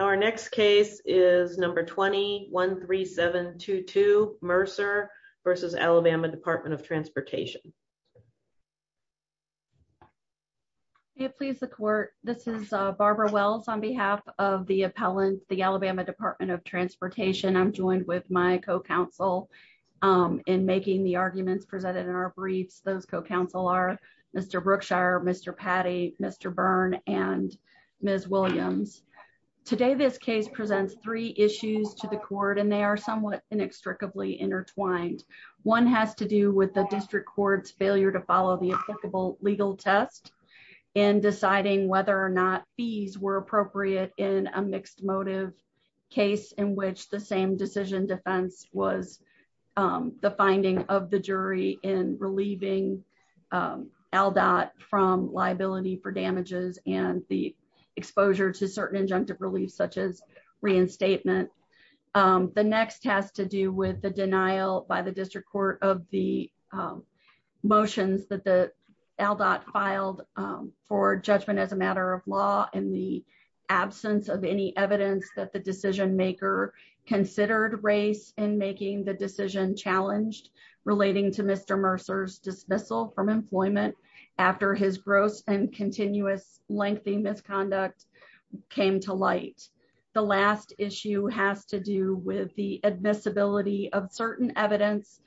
Our next case is number 20 13722 Mercer versus Alabama Department of Transportation. Please the court. This is Barbara Wells on behalf of the appellant, the Alabama Department of Transportation I'm joined with my co counsel in making the arguments presented in our briefs those co counselor, Mr. Brookshire Mr. Patty, Mr. Byrne, and Ms. Williams. Today this case presents three issues to the court and they are somewhat inextricably intertwined. One has to do with the district courts failure to follow the applicable legal test and deciding whether or not fees were appropriate in a mixed motive case in which the same decision defense was the finding of the jury in relieving L dot from liability for damages and the exposure to certain injunctive relief such as reinstatement. The next has to do with the denial by the district court of the motions that the L dot filed for judgment as a matter of law and the absence of any evidence that the decision maker considered race and making the decision challenged, relating to Mr The third issue has to do with the admissibility of certain evidence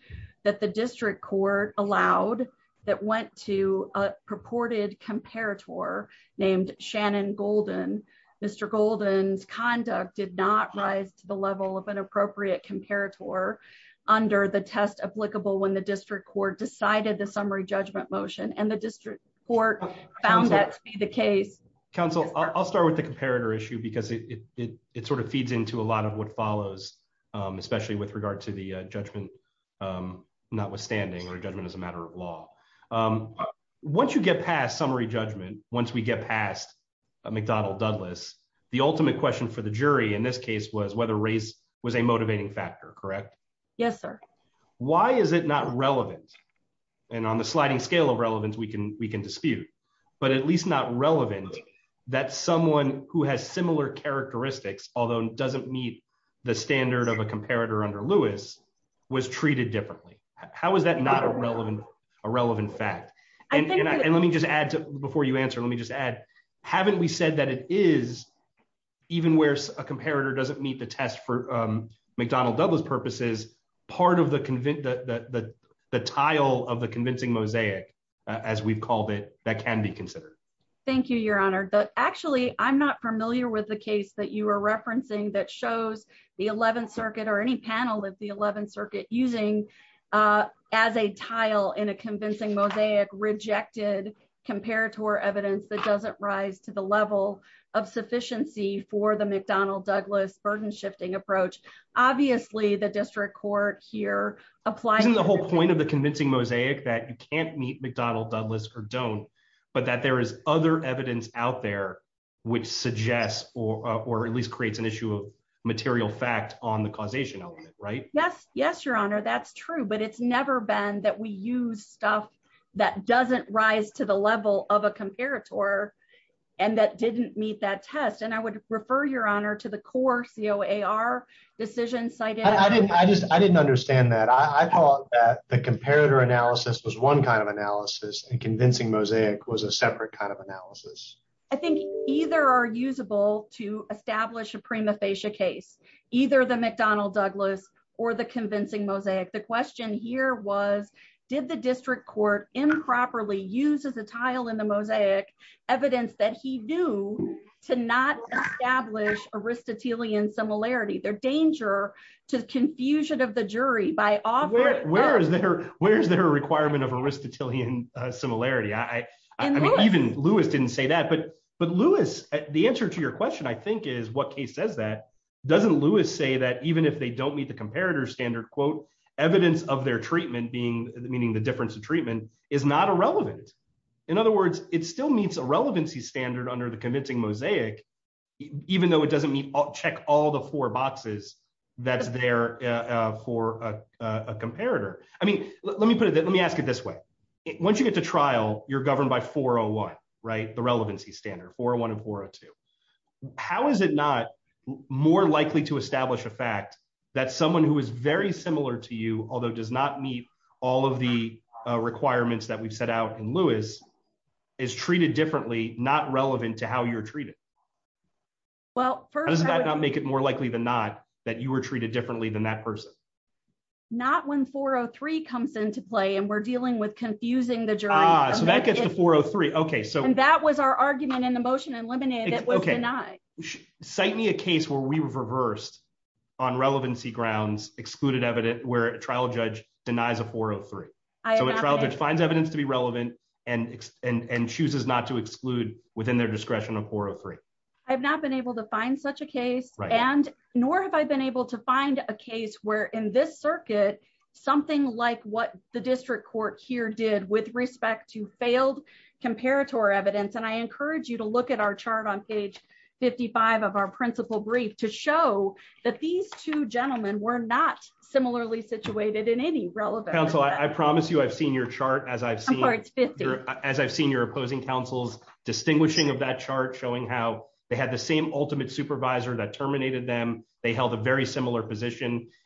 that the district court allowed that went to a purported comparator named Shannon golden. Mr. Golden's conduct did not rise to the level of an appropriate comparator under the test applicable when the district court decided the summary judgment motion and the district court found that to be the case. Council, I'll start with the comparator issue because it sort of feeds into a lot of what follows, especially with regard to the judgment. Notwithstanding or judgment as a matter of law. Once you get past summary judgment, once we get past a McDonnell Douglas, the ultimate question for the jury in this case was whether race was a motivating factor correct. Yes, sir. Why is it not relevant. And on the sliding scale of relevance we can we can dispute, but at least not relevant that someone who has similar characteristics, although doesn't meet the standard of a comparator under Lewis was treated differently. How is that not a relevant, a relevant fact. And let me just add to before you answer let me just add, haven't we said that it is even worse, a comparator doesn't meet the test for McDonald Douglas purposes, part of the convince that the title of the convincing mosaic, as we've called it, that can be considered. Thank you, Your Honor, but actually I'm not familiar with the case that you are referencing that shows the 11th Circuit or any panel of the 11th Circuit using as a tile in a convincing mosaic rejected comparator evidence that doesn't rise to the level of sufficiency for the McDonald Douglas burden shifting approach. Obviously the district court here, apply the whole point of the convincing mosaic that you can't meet McDonald Douglas or don't, but that there is other evidence out there, which suggests, or at least creates an issue of material fact on the causation element right yes yes your honor that's true but it's never been that we use stuff that doesn't rise to the level of a comparator. And that didn't meet that test and I would refer your honor to the core co AR decision cited I didn't I just I didn't understand that I thought that the comparator analysis was one kind of analysis and convincing mosaic was a separate kind of analysis. I think either are usable to establish a prima facie case, either the McDonald Douglas, or the convincing mosaic the question here was, did the district court improperly uses a tile in the mosaic evidence that he knew to not establish Aristotelian similarity their danger to the confusion of the jury by off where is there, where is there a requirement of Aristotelian similarity I even Lewis didn't say that but but Lewis, the answer to your question I think is what case says that doesn't Lewis say that even if they don't meet the comparator standard quote evidence of their treatment being the meaning the difference of treatment is not irrelevant. In other words, it still meets a relevancy standard under the convincing mosaic, even though it doesn't mean I'll check all the four boxes. That's there for a comparator. I mean, let me put it, let me ask it this way. Once you get to trial, you're governed by 401 right the relevancy standard for one of four or two. How is it not more likely to establish a fact that someone who is very similar to you, although does not meet all of the requirements that we've set out in Lewis is treated differently, not relevant to how you're treated. Well, first, does that not make it more likely than not, that you were treated differently than that person. Not when 403 comes into play and we're dealing with confusing the job so that gets to 403 okay so and that was our argument in the motion and lemonade. Okay. Cite me a case where we were reversed on relevancy grounds excluded evident where trial judge denies a 403. So it's rather defines evidence to be relevant and and and chooses not to exclude within their discretion of 403. I've not been able to find such a case, and nor have I been able to find a case where in this circuit, something like what the district court here did with respect to failed comparator evidence and I encourage you to look at our chart on page 55 of our principal brief to show that these two gentlemen were not similarly situated in any relevant so I promise you I've seen your chart as I've seen as I've seen your opposing councils distinguishing of that chart showing how they had the same ultimate supervisor that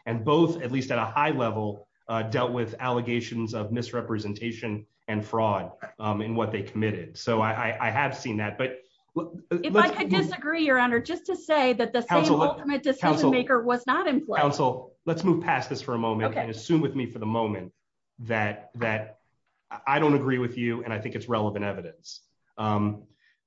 and both at least at a high level, dealt with allegations of misrepresentation and fraud in what they committed so I have seen that but I disagree your honor just to say that the ultimate decision maker was not in council, let's move past this for a moment for the moment that that I don't agree with you and I think it's relevant evidence.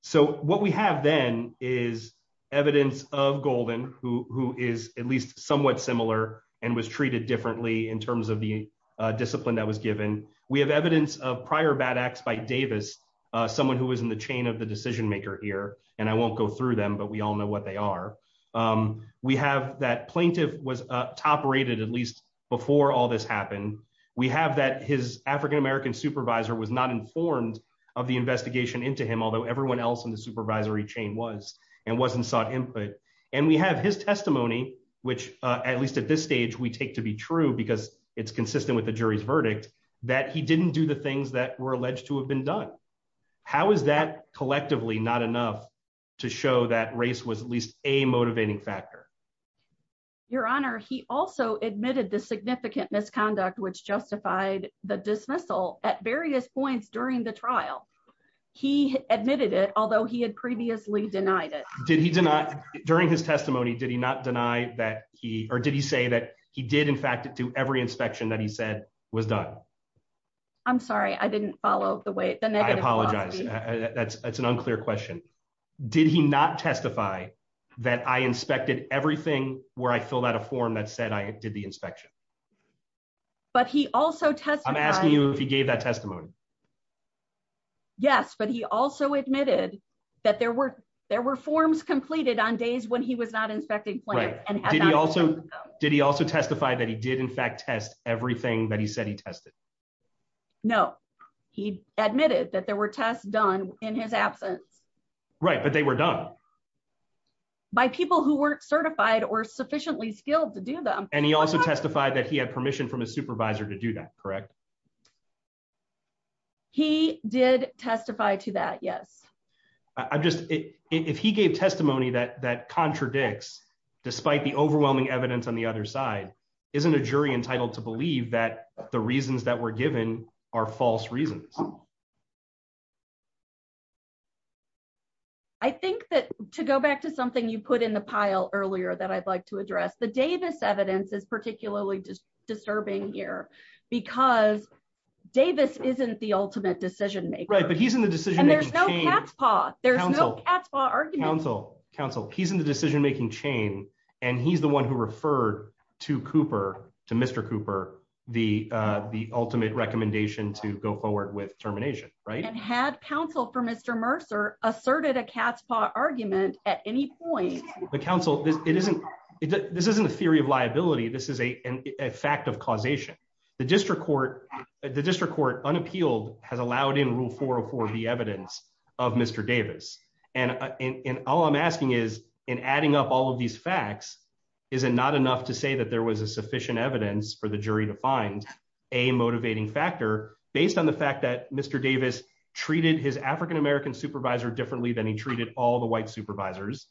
So, what we have then is evidence of golden, who is at least somewhat similar, and was treated differently in terms of the discipline that was given, we have evidence of prior bad acts by Davis, someone who was in the chain of the decision maker here, and I won't go through them but we all know what they are. We have that plaintiff was top rated at least before all this happened. We have that his African American supervisor was not informed of the investigation into him although everyone else in the supervisory chain was and wasn't sought input, and we have his testimony, which, at least at this stage we take to be true because it's consistent with the jury's verdict that he didn't do the things that were alleged to have been done. How is that collectively not enough to show that race was at least a motivating factor. Your Honor, he also admitted the significant misconduct which justified the dismissal at various points during the trial. He admitted it, although he had previously denied it, did he do not during his testimony did he not deny that he or did he say that he did in fact do every inspection that he said was done. I'm sorry I didn't follow the way that I apologize. That's, that's an unclear question. Did he not testify that I inspected everything where I fill out a form that said I did the inspection. But he also test I'm asking you if he gave that testimony. Yes, but he also admitted that there were there were forms completed on days when he was not inspecting plan, and he also did he also testify that he did in fact test everything that he said he tested. No, he admitted that there were tests done in his absence. Right, but they were done by people who weren't certified or sufficiently skilled to do them. And he also testified that he had permission from a supervisor to do that correct. He did testify to that yes. I'm just, if he gave testimony that that contradicts, despite the overwhelming evidence on the other side, isn't a jury entitled to believe that the reasons that were given are false reasons. Thank you. I think that, to go back to something you put in the pile earlier that I'd like to address the Davis evidence is particularly disturbing here because Davis isn't the ultimate decision right but he's in the decision. And there's no there's no council council, he's in the decision making chain, and he's the one who referred to Cooper to Mr. Cooper, the, the ultimate recommendation to go forward with termination right and had counsel for Mr Mercer asserted a cat's paw evidence of Mr Davis, and all I'm asking is in adding up all of these facts is it not enough to say that there was a sufficient evidence for the jury to find a motivating factor, based on the fact that Mr Davis treated his African American supervisor differently than he treated all the white supervisors.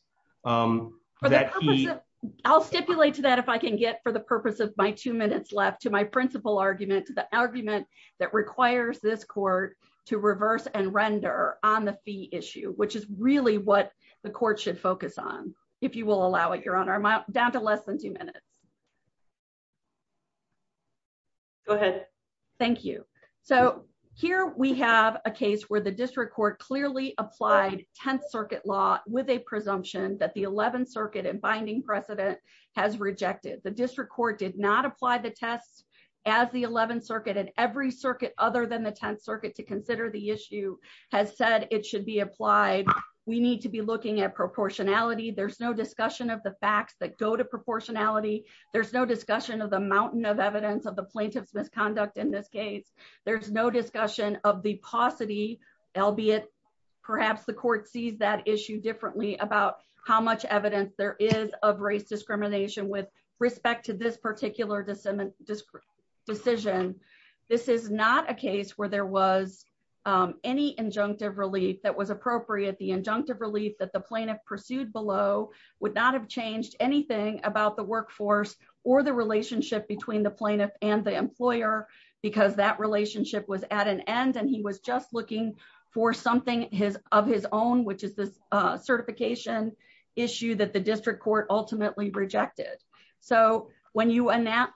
I'll stipulate to that if I can get for the purpose of my two minutes left to my principal argument to the argument that requires this court to reverse and render on the fee issue which is really what the court should focus on. If you will allow it your honor my down to less than two minutes. Go ahead. Thank you. So, here we have a case where the district court clearly applied 10th circuit law, with a presumption that the 11th circuit and binding precedent has rejected the district court did not apply the tests as the 11th circuit and every There's no discussion of the mountain of evidence of the plaintiff's misconduct in this case, there's no discussion of the paucity, albeit, perhaps the court sees that issue differently about how much evidence there is of race discrimination with respect to this particular disseminate this decision. This is not a case where there was any injunctive relief that was appropriate the injunctive relief that the plaintiff pursued below would not have changed anything about the workforce, or the relationship when you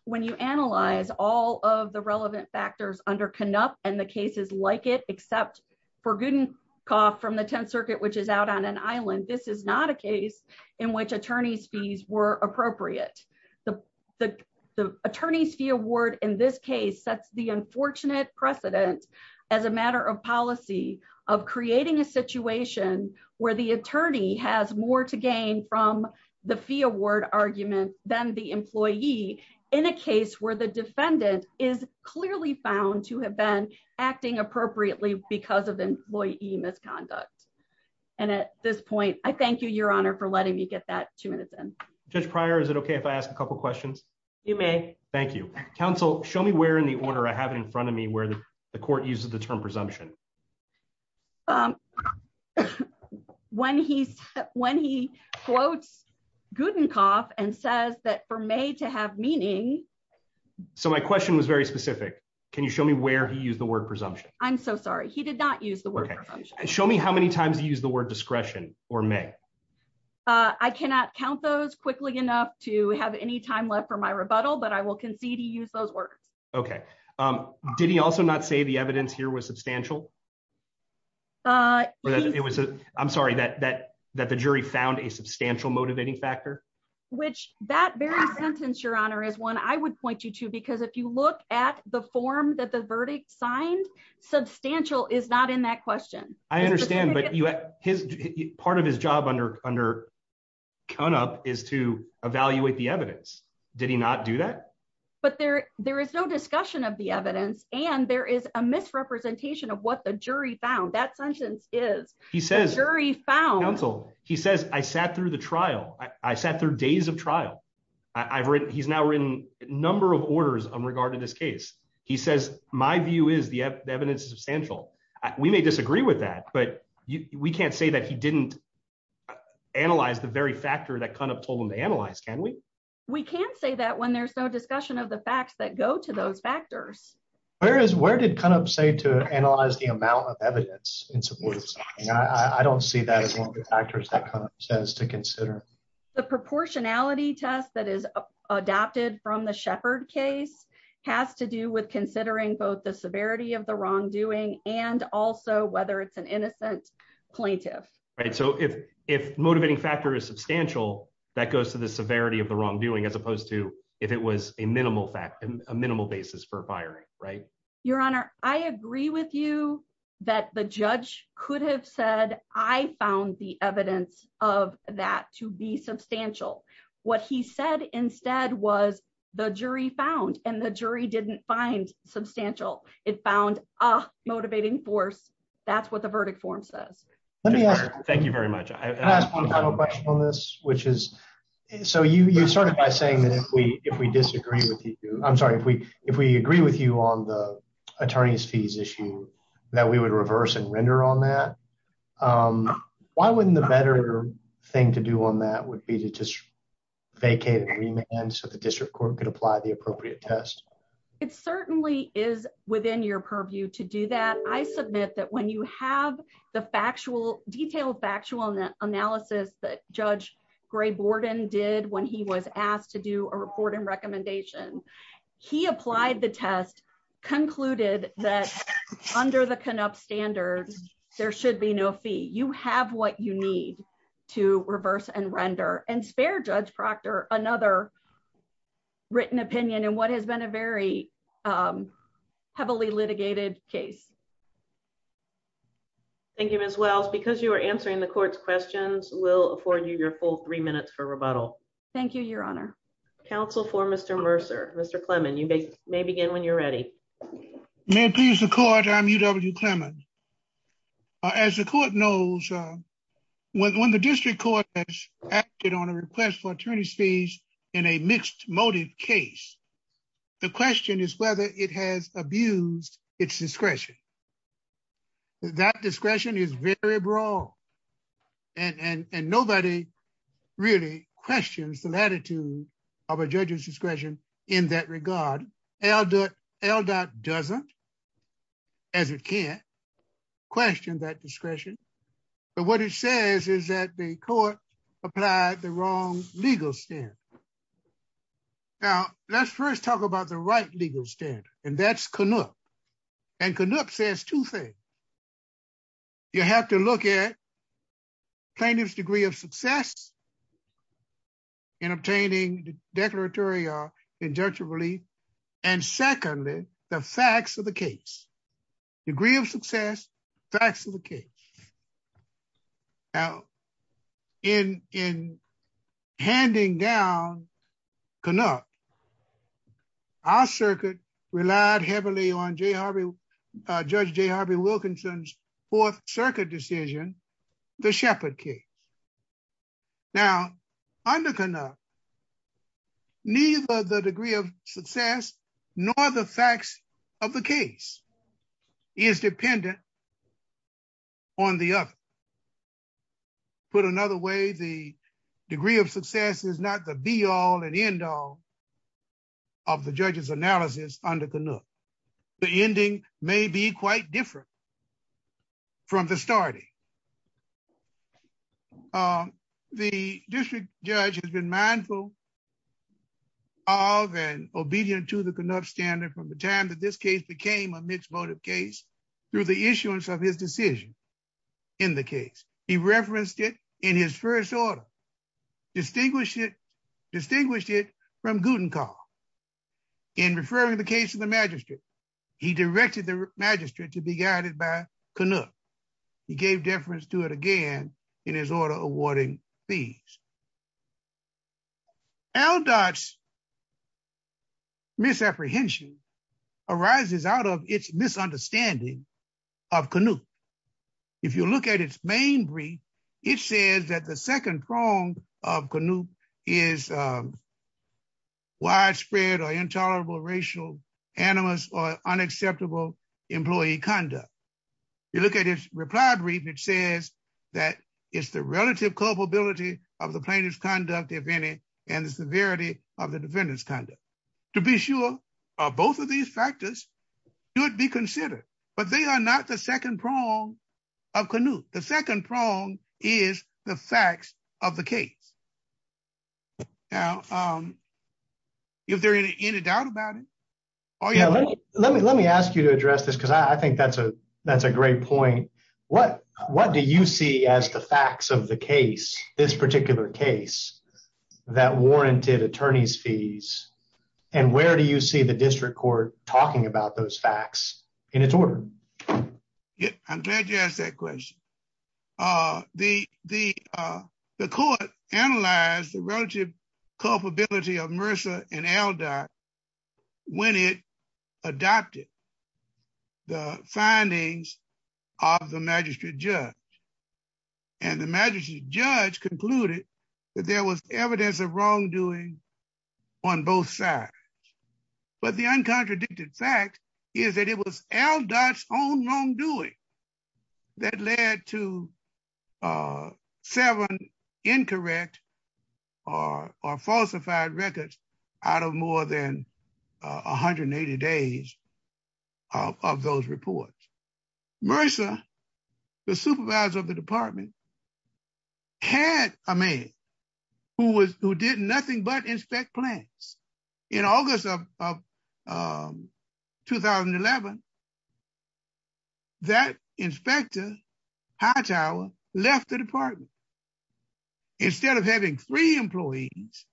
when you analyze all of the relevant factors under cannot, and the cases like it, except for good and cough from the 10th circuit which is out on an island, this is not a case in which attorneys fees were appropriate. The attorneys fee award in this case sets the unfortunate precedent as a matter of policy of creating a situation where the attorney has more to gain from the fee award argument, then the employee in a case where the defendant is clearly found to have appropriately because of employee misconduct. And at this point, I thank you, Your Honor for letting me get that two minutes and just prior Is it okay if I ask a couple questions, you may. Thank you, counsel, show me where in the order I have it in front of me where the court uses the term presumption. When he's when he quotes good and cough and says that for me to have meaning. So my question was very specific. Can you show me where he used the word presumption, I'm so sorry he did not use the word. Show me how many times you use the word discretion, or may I cannot count those quickly enough to have any time left for my rebuttal but I will concede he used those words. Okay. Did he also not say the evidence here was substantial. It was, I'm sorry that that that the jury found a substantial motivating factor, which that very sentence Your Honor is one I would point you to because if you look at the form that the verdict signed substantial is not in that question. I understand but you have his part of his job under under come up is to evaluate the evidence. Did he not do that. But there, there is no discussion of the evidence, and there is a misrepresentation of what the jury found that sentence is, he says he says I sat through the trial, I sat there days of trial. I've written he's now written number of orders on regard to this case, he says, my view is the evidence is substantial. We may disagree with that, but we can't say that he didn't analyze the very factor that kind of told him to analyze can we, we can say that when there's no discussion of the facts that go to those factors, whereas where did kind of say to analyze the amount of evidence in support. I don't see that as one of the factors that says to consider the proportionality test that is adopted from the shepherd case has to do with considering both the severity of the wrongdoing, and also whether it's an innocent plaintiff. Right, so if, if motivating factor is substantial, that goes to the severity of the wrongdoing as opposed to if it was a minimal fact and a minimal basis for firing right, your honor, I agree with you that the judge could have said, I found the evidence of that to be substantial. What he said instead was the jury found and the jury didn't find substantial, it found a motivating force. That's what the verdict form says, let me thank you very much. I have a question on this, which is, so you started by saying that if we, if we disagree with you, I'm sorry if we, if we agree with you on the attorneys fees issue that we would reverse and render on that. Why wouldn't the better thing to do on that would be to just vacate agreement and so the district court could apply the appropriate test. It certainly is within your purview to do that I submit that when you have the factual detailed factual analysis that Judge Gray Borden did when he was asked to do a report and recommendation. He applied the test concluded that under the can up standards, there should be no fee you have what you need to reverse and render and spare Judge Proctor, another written opinion and what has been a very heavily litigated case. Thank you as well because you are answering the court's questions will afford you your full three minutes for rebuttal. Thank you, Your Honor, counsel for Mr Mercer, Mr Clemon you may may begin when you're ready. May please record I'm UW Clemon. As the court knows, when the district court has acted on a request for attorney's fees in a mixed motive case. The question is whether it has abused its discretion. That discretion is very broad. And, and, and nobody really questions the latitude of a judge's discretion in that regard. L dot L dot doesn't. As it can't question that discretion. But what it says is that the court applied the wrong legal stand. Now, let's first talk about the right legal standard, and that's can look and can look says two things. You have to look at plaintiff's degree of success in obtaining declaratory injunctive relief. And secondly, the facts of the case degree of success facts of the case. In, in handing down cannot. Our circuit relied heavily on Jr. Judge J Harvey Wilkinson fourth circuit decision. The shepherd key. Now, I'm looking up. Neither the degree of success, nor the facts of the case is dependent on the other. Put another way the degree of success is not the be all and end all of the judges analysis under canoe. The ending may be quite different from the starting. The district judge has been mindful of and obedient to the conduct standard from the time that this case became a mixed motive case through the issuance of his decision in the case, he referenced it in his first order. Distinguish it. Distinguish it from gluten car. In referring the case of the magistrate. He directed the magistrate to be guided by canoe. He gave deference to it again in his order awarding fees. L dots misapprehension arises out of its misunderstanding of canoe. If you look at its main brief. It says that the second prong of canoe is widespread or intolerable racial animus or unacceptable employee conduct. You look at his reply brief, it says that is the relative culpability of the plaintiff's conduct, if any, and the severity of the defendant's conduct. To be sure, both of these factors should be considered, but they are not the second prong of canoe. The second prong is the facts of the case. Now, if there any doubt about it. Oh, yeah, let me let me let me ask you to address this because I think that's a, that's a great point. What, what do you see as the facts of the case, this particular case that warranted attorneys fees. And where do you see the district court, talking about those facts in its order. Yeah, I'm glad you asked that question. The, the, the court, analyze the relative culpability of Mercer and L dot. When it adopted the findings of the magistrate judge, and the magistrate judge concluded that there was evidence of wrongdoing on both sides. But the uncontradicted fact is that it was L dot own wrongdoing that led to seven incorrect or falsified records out of more than 180 days of those reports. Mercer, the supervisor of the department had a man who was who did nothing but inspect plants in August of 2011. That inspector high tower left the department. Instead of having three employees.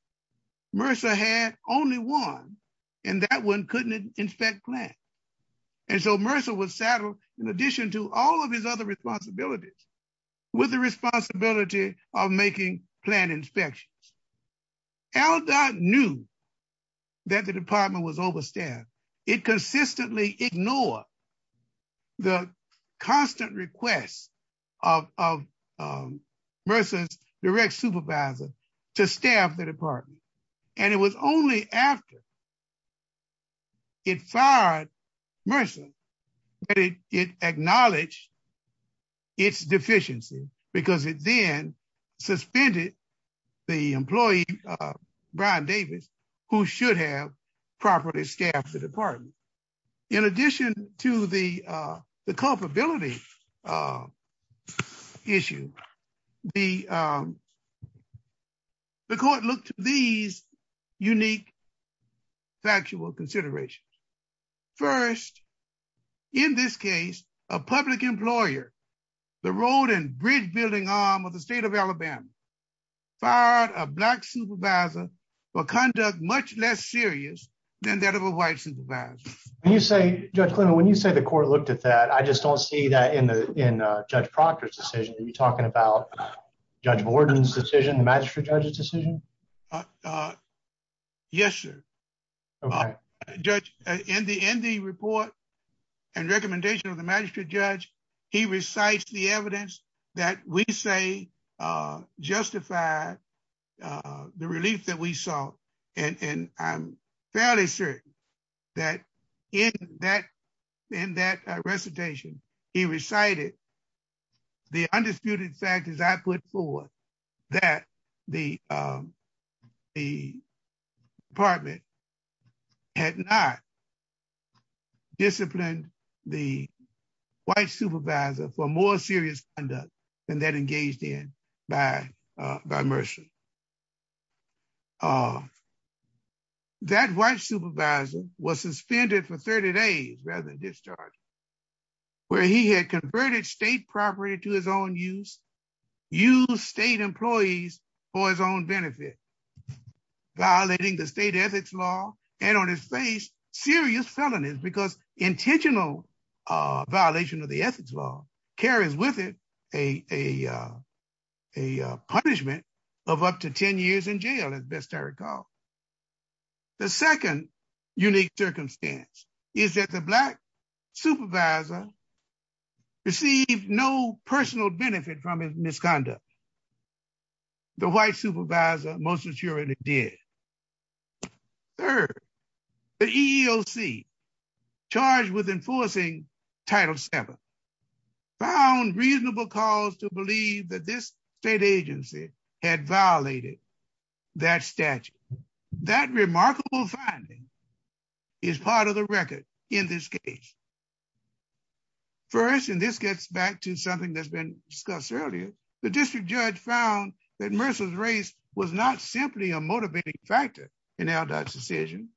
Mercer had only one. And that one couldn't inspect plan. And so Mercer was saddled. In addition to all of his other responsibilities with the responsibility of making plan inspections. L dot knew that the department was overstaffed. It consistently ignore the constant requests of versus direct supervisor to staff the department. And it was only after it fired. It acknowledged its deficiency, because it then suspended the employee, Brian Davis, who should have properly staff the department. In addition to the culpability issue. The court looked these unique factual considerations. First, in this case, a public employer, the road and bridge building arm of the state of Alabama. A black supervisor for conduct much less serious than that of a white supervisor. You say, when you say the court looked at that, I just don't see that in the in Judge Proctor's decision. You're talking about Judge Borden's decision, the magistrate judges decision. Yes, sir. In the in the report and recommendation of the magistrate judge, he recites the evidence that we say justify the relief that we saw. And I'm fairly sure that in that in that recitation, he recited the undisputed factors I put forward that the, the department had not disciplined the white supervisor for more serious than that engaged in by by mercy. That white supervisor was suspended for 30 days rather than discharge, where he had converted state property to his own use, use state employees for his own benefit. Violating the state ethics law and on his face serious felonies because intentional violation of the ethics law carries with it a a punishment of up to 10 years in jail as best I recall. The second unique circumstance is that the black supervisor received no personal benefit from his misconduct. The white supervisor, most assuredly did. Third, the EEOC charged with enforcing Title VII found reasonable cause to believe that this state agency had violated that statute. That remarkable finding is part of the record in this case. First, and this gets back to something that's been discussed earlier, the district judge found that Mercer's race was not simply a motivating factor in our decision.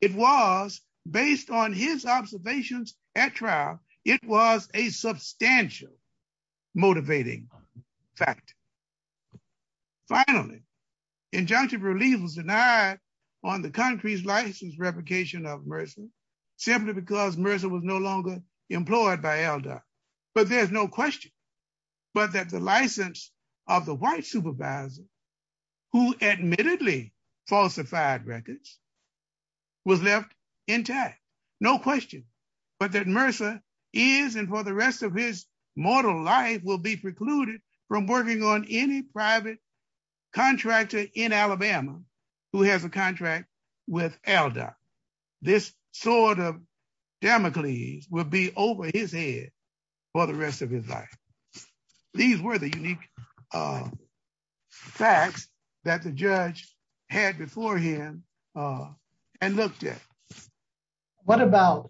It was based on his observations at trial. It was a substantial motivating fact. Finally, injunctive relief was denied on the country's license replication of Mercer, simply because Mercer was no longer employed by ELDA. But there's no question, but that the license of the white supervisor, who admittedly falsified records, was left intact. No question, but that Mercer is and for the rest of his mortal life will be precluded from working on any private contractor in Alabama who has a contract with ELDA. This sort of Damocles will be over his head for the rest of his life. These were the unique facts that the judge had before him and looked at.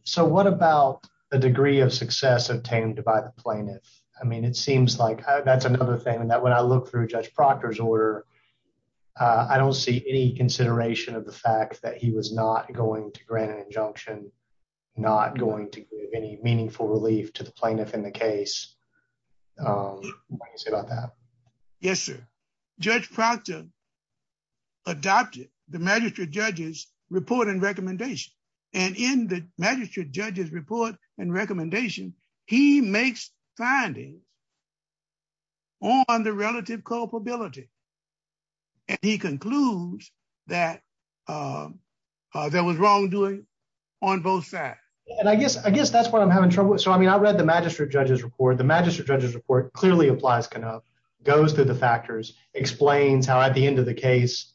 So what about the degree of success obtained by the plaintiff? I mean, it seems like that's another thing, and that when I look through Judge Proctor's order, I don't see any consideration of the fact that he was not going to grant an injunction, not going to give any meaningful relief to the plaintiff in the case. What do you say about that? Yes, sir. Judge Proctor adopted the magistrate judge's report and recommendation. And in the magistrate judge's report and recommendation, he makes findings on the relative culpability. And he concludes that there was wrongdoing on both sides. And I guess I guess that's what I'm having trouble with. So, I mean, I read the magistrate judge's report. The magistrate judge's report clearly applies, goes through the factors, explains how at the end of the case,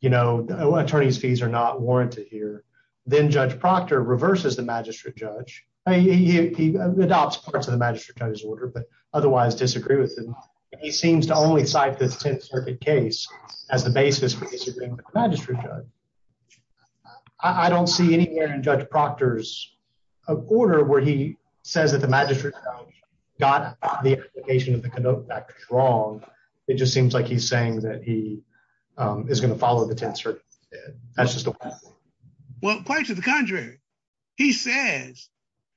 you know, attorney's fees are not warranted here. Then Judge Proctor reverses the magistrate judge. He adopts parts of the magistrate judge's order, but otherwise disagree with him. He seems to only cite the Tenth Circuit case as the basis for disagreeing with the magistrate judge. I don't see anywhere in Judge Proctor's order where he says that the magistrate judge got the application of the conduct back wrong. It just seems like he's saying that he is going to follow the Tenth Circuit. That's just the way it is. Well, quite to the contrary, he says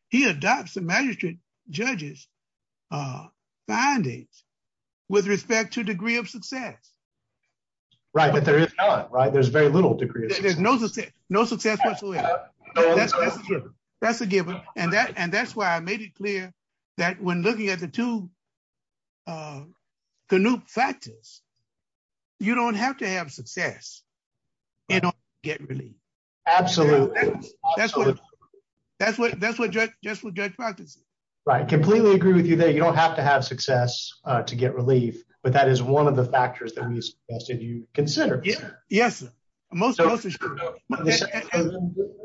he adopts the magistrate judge's findings with respect to degree of success. Right, but there is not, right? There's very little degree of success. There's no success whatsoever. That's a given. And that's why I made it clear that when looking at the two Canoop factors, you don't have to have success in order to get relief. Absolutely. That's what Judge Proctor said. Right. I completely agree with you there. You don't have to have success to get relief, but that is one of the factors that we suggested you consider. Yes, sir.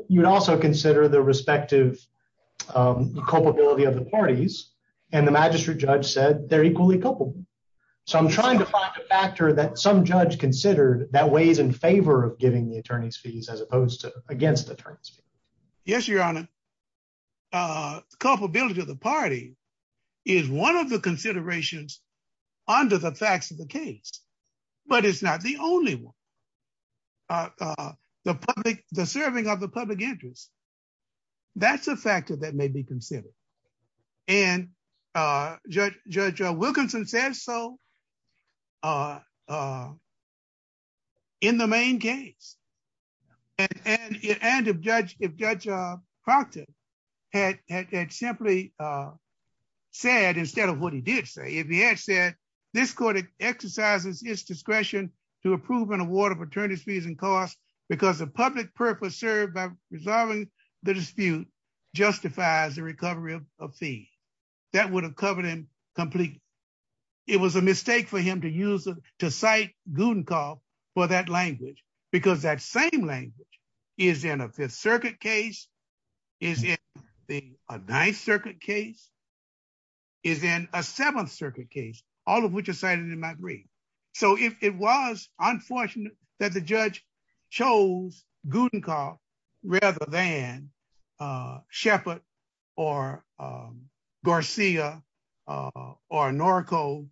You would also consider the respective culpability of the parties, and the magistrate judge said they're equally culpable. So I'm trying to find a factor that some judge considered that weighs in favor of giving the attorney's fees as opposed to against the attorney's fees. Yes, Your Honor. Culpability of the party is one of the considerations under the facts of the case, but it's not the only one. The serving of the public interest, that's a factor that may be considered. And Judge Wilkinson said so in the main case. And if Judge Proctor had simply said, instead of what he did say, if he had said, this court exercises its discretion to approve an award of attorney's fees and costs because the public purpose served by resolving the dispute justifies the recovery of a fee. That would have covered him completely. It was a mistake for him to cite Guttenkopf for that language, because that same language is in a Fifth Circuit case, is in a Ninth Circuit case, is in a Seventh Circuit case, all of which are cited in my brief. So it was unfortunate that the judge chose Guttenkopf rather than Shepard or Garcia or Norco,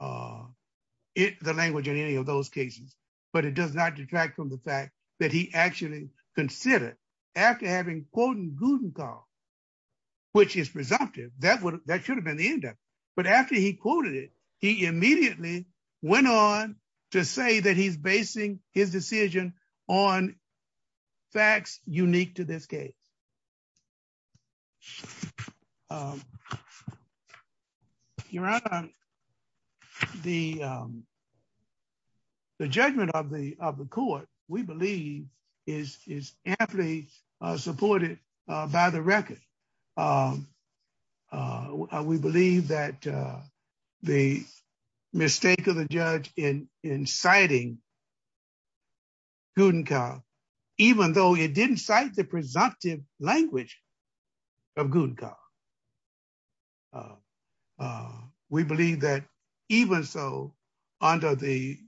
the language in any of those cases. But it does not detract from the fact that he actually considered, after having quoted Guttenkopf, which is presumptive, that should have been the end of it. But after he quoted it, he immediately went on to say that he's basing his decision on facts unique to this case. Your Honor, the judgment of the court, we believe, is amply supported by the record. We believe that the mistake of the judge in citing Guttenkopf, even though it didn't cite the presumptive language of Guttenkopf, we believe that even so, under the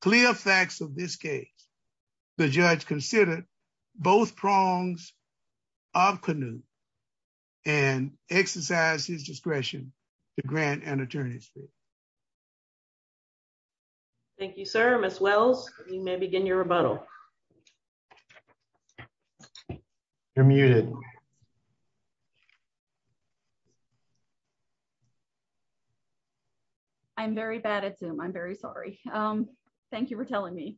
clear facts of this case, the judge considered both prongs of Canute and exercised his discretion to grant an attorney's fee. Thank you, sir. Ms. Wells, you may begin your rebuttal. You're muted. I'm very bad at Zoom. I'm very sorry. Thank you for telling me.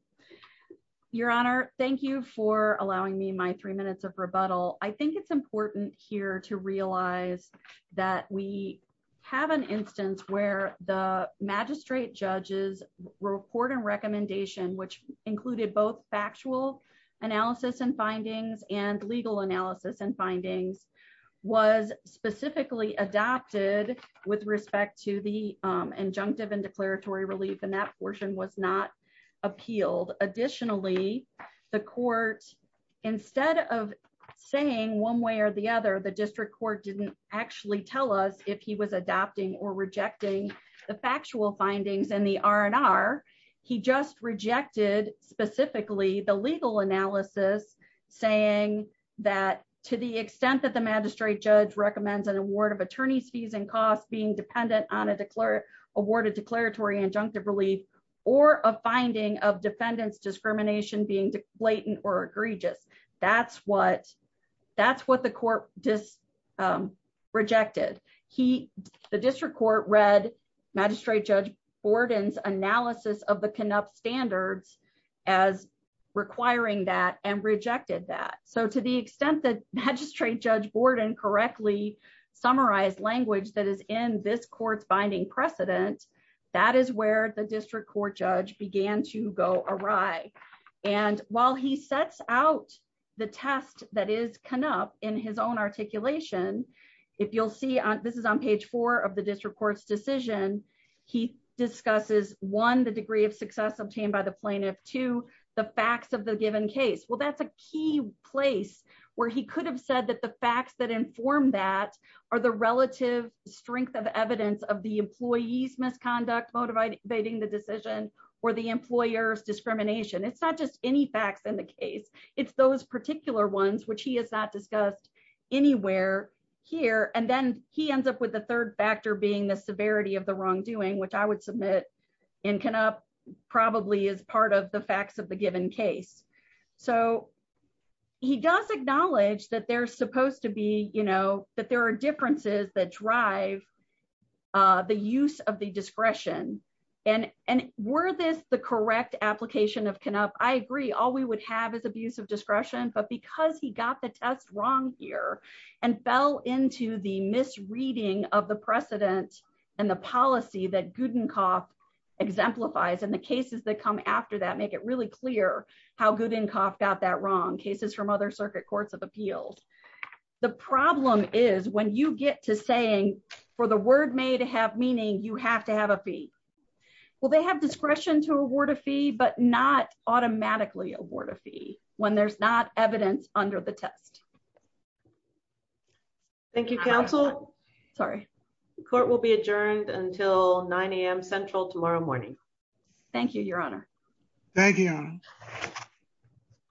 Your Honor, thank you for allowing me my three minutes of rebuttal. I think it's important here to realize that we have an instance where the magistrate judge's report and recommendation, which included both factual analysis and findings and legal analysis was specifically adopted with respect to the injunctive and declaratory relief and that portion was not appealed. Additionally, the court, instead of saying one way or the other, the district court didn't actually tell us if he was adopting or rejecting the factual analysis to the extent that the magistrate judge recommends an award of attorney's fees and costs being dependent on a declared awarded declaratory injunctive relief or a finding of defendants discrimination being blatant or egregious. That's what the court rejected. The district court read Magistrate Judge Borden's analysis of the Canute standards as requiring that and rejected that. So to the extent that Magistrate Judge Borden correctly summarized language that is in this court's binding precedent, that is where the district court judge began to go awry. And while he sets out the test that is Canute in his own articulation, if you'll see, this is on page four of the district court's decision, he discusses one, the degree of success obtained by the plaintiff, two, the facts of the given case. Well, that's a key place where he could have said that the facts that inform that are the relative strength of evidence of the employee's misconduct motivating the decision or the employer's discrimination. It's not just any facts in the case. It's those particular ones which he has not discussed anywhere here and then he ends up with the third factor being the severity of the wrongdoing, which I would submit in Canute probably is part of the facts of the given case. So he does acknowledge that there's supposed to be, you know, that there are differences that drive the use of the discretion. And were this the correct application of Canute, I agree, all we would have is abuse of discretion, but because he got the test wrong here and fell into the misreading of the precedent and the policy that Goodencoff exemplifies and the cases that come after that make it really clear how Goodencoff got that wrong, cases from other circuit courts of appeals. The problem is when you get to saying, for the word may to have meaning you have to have a fee. Well, they have discretion to award a fee but not automatically award a fee when there's not evidence under the test. Thank you, counsel. Sorry, court will be adjourned until 9am Central tomorrow morning. Thank you, Your Honor. Thank you.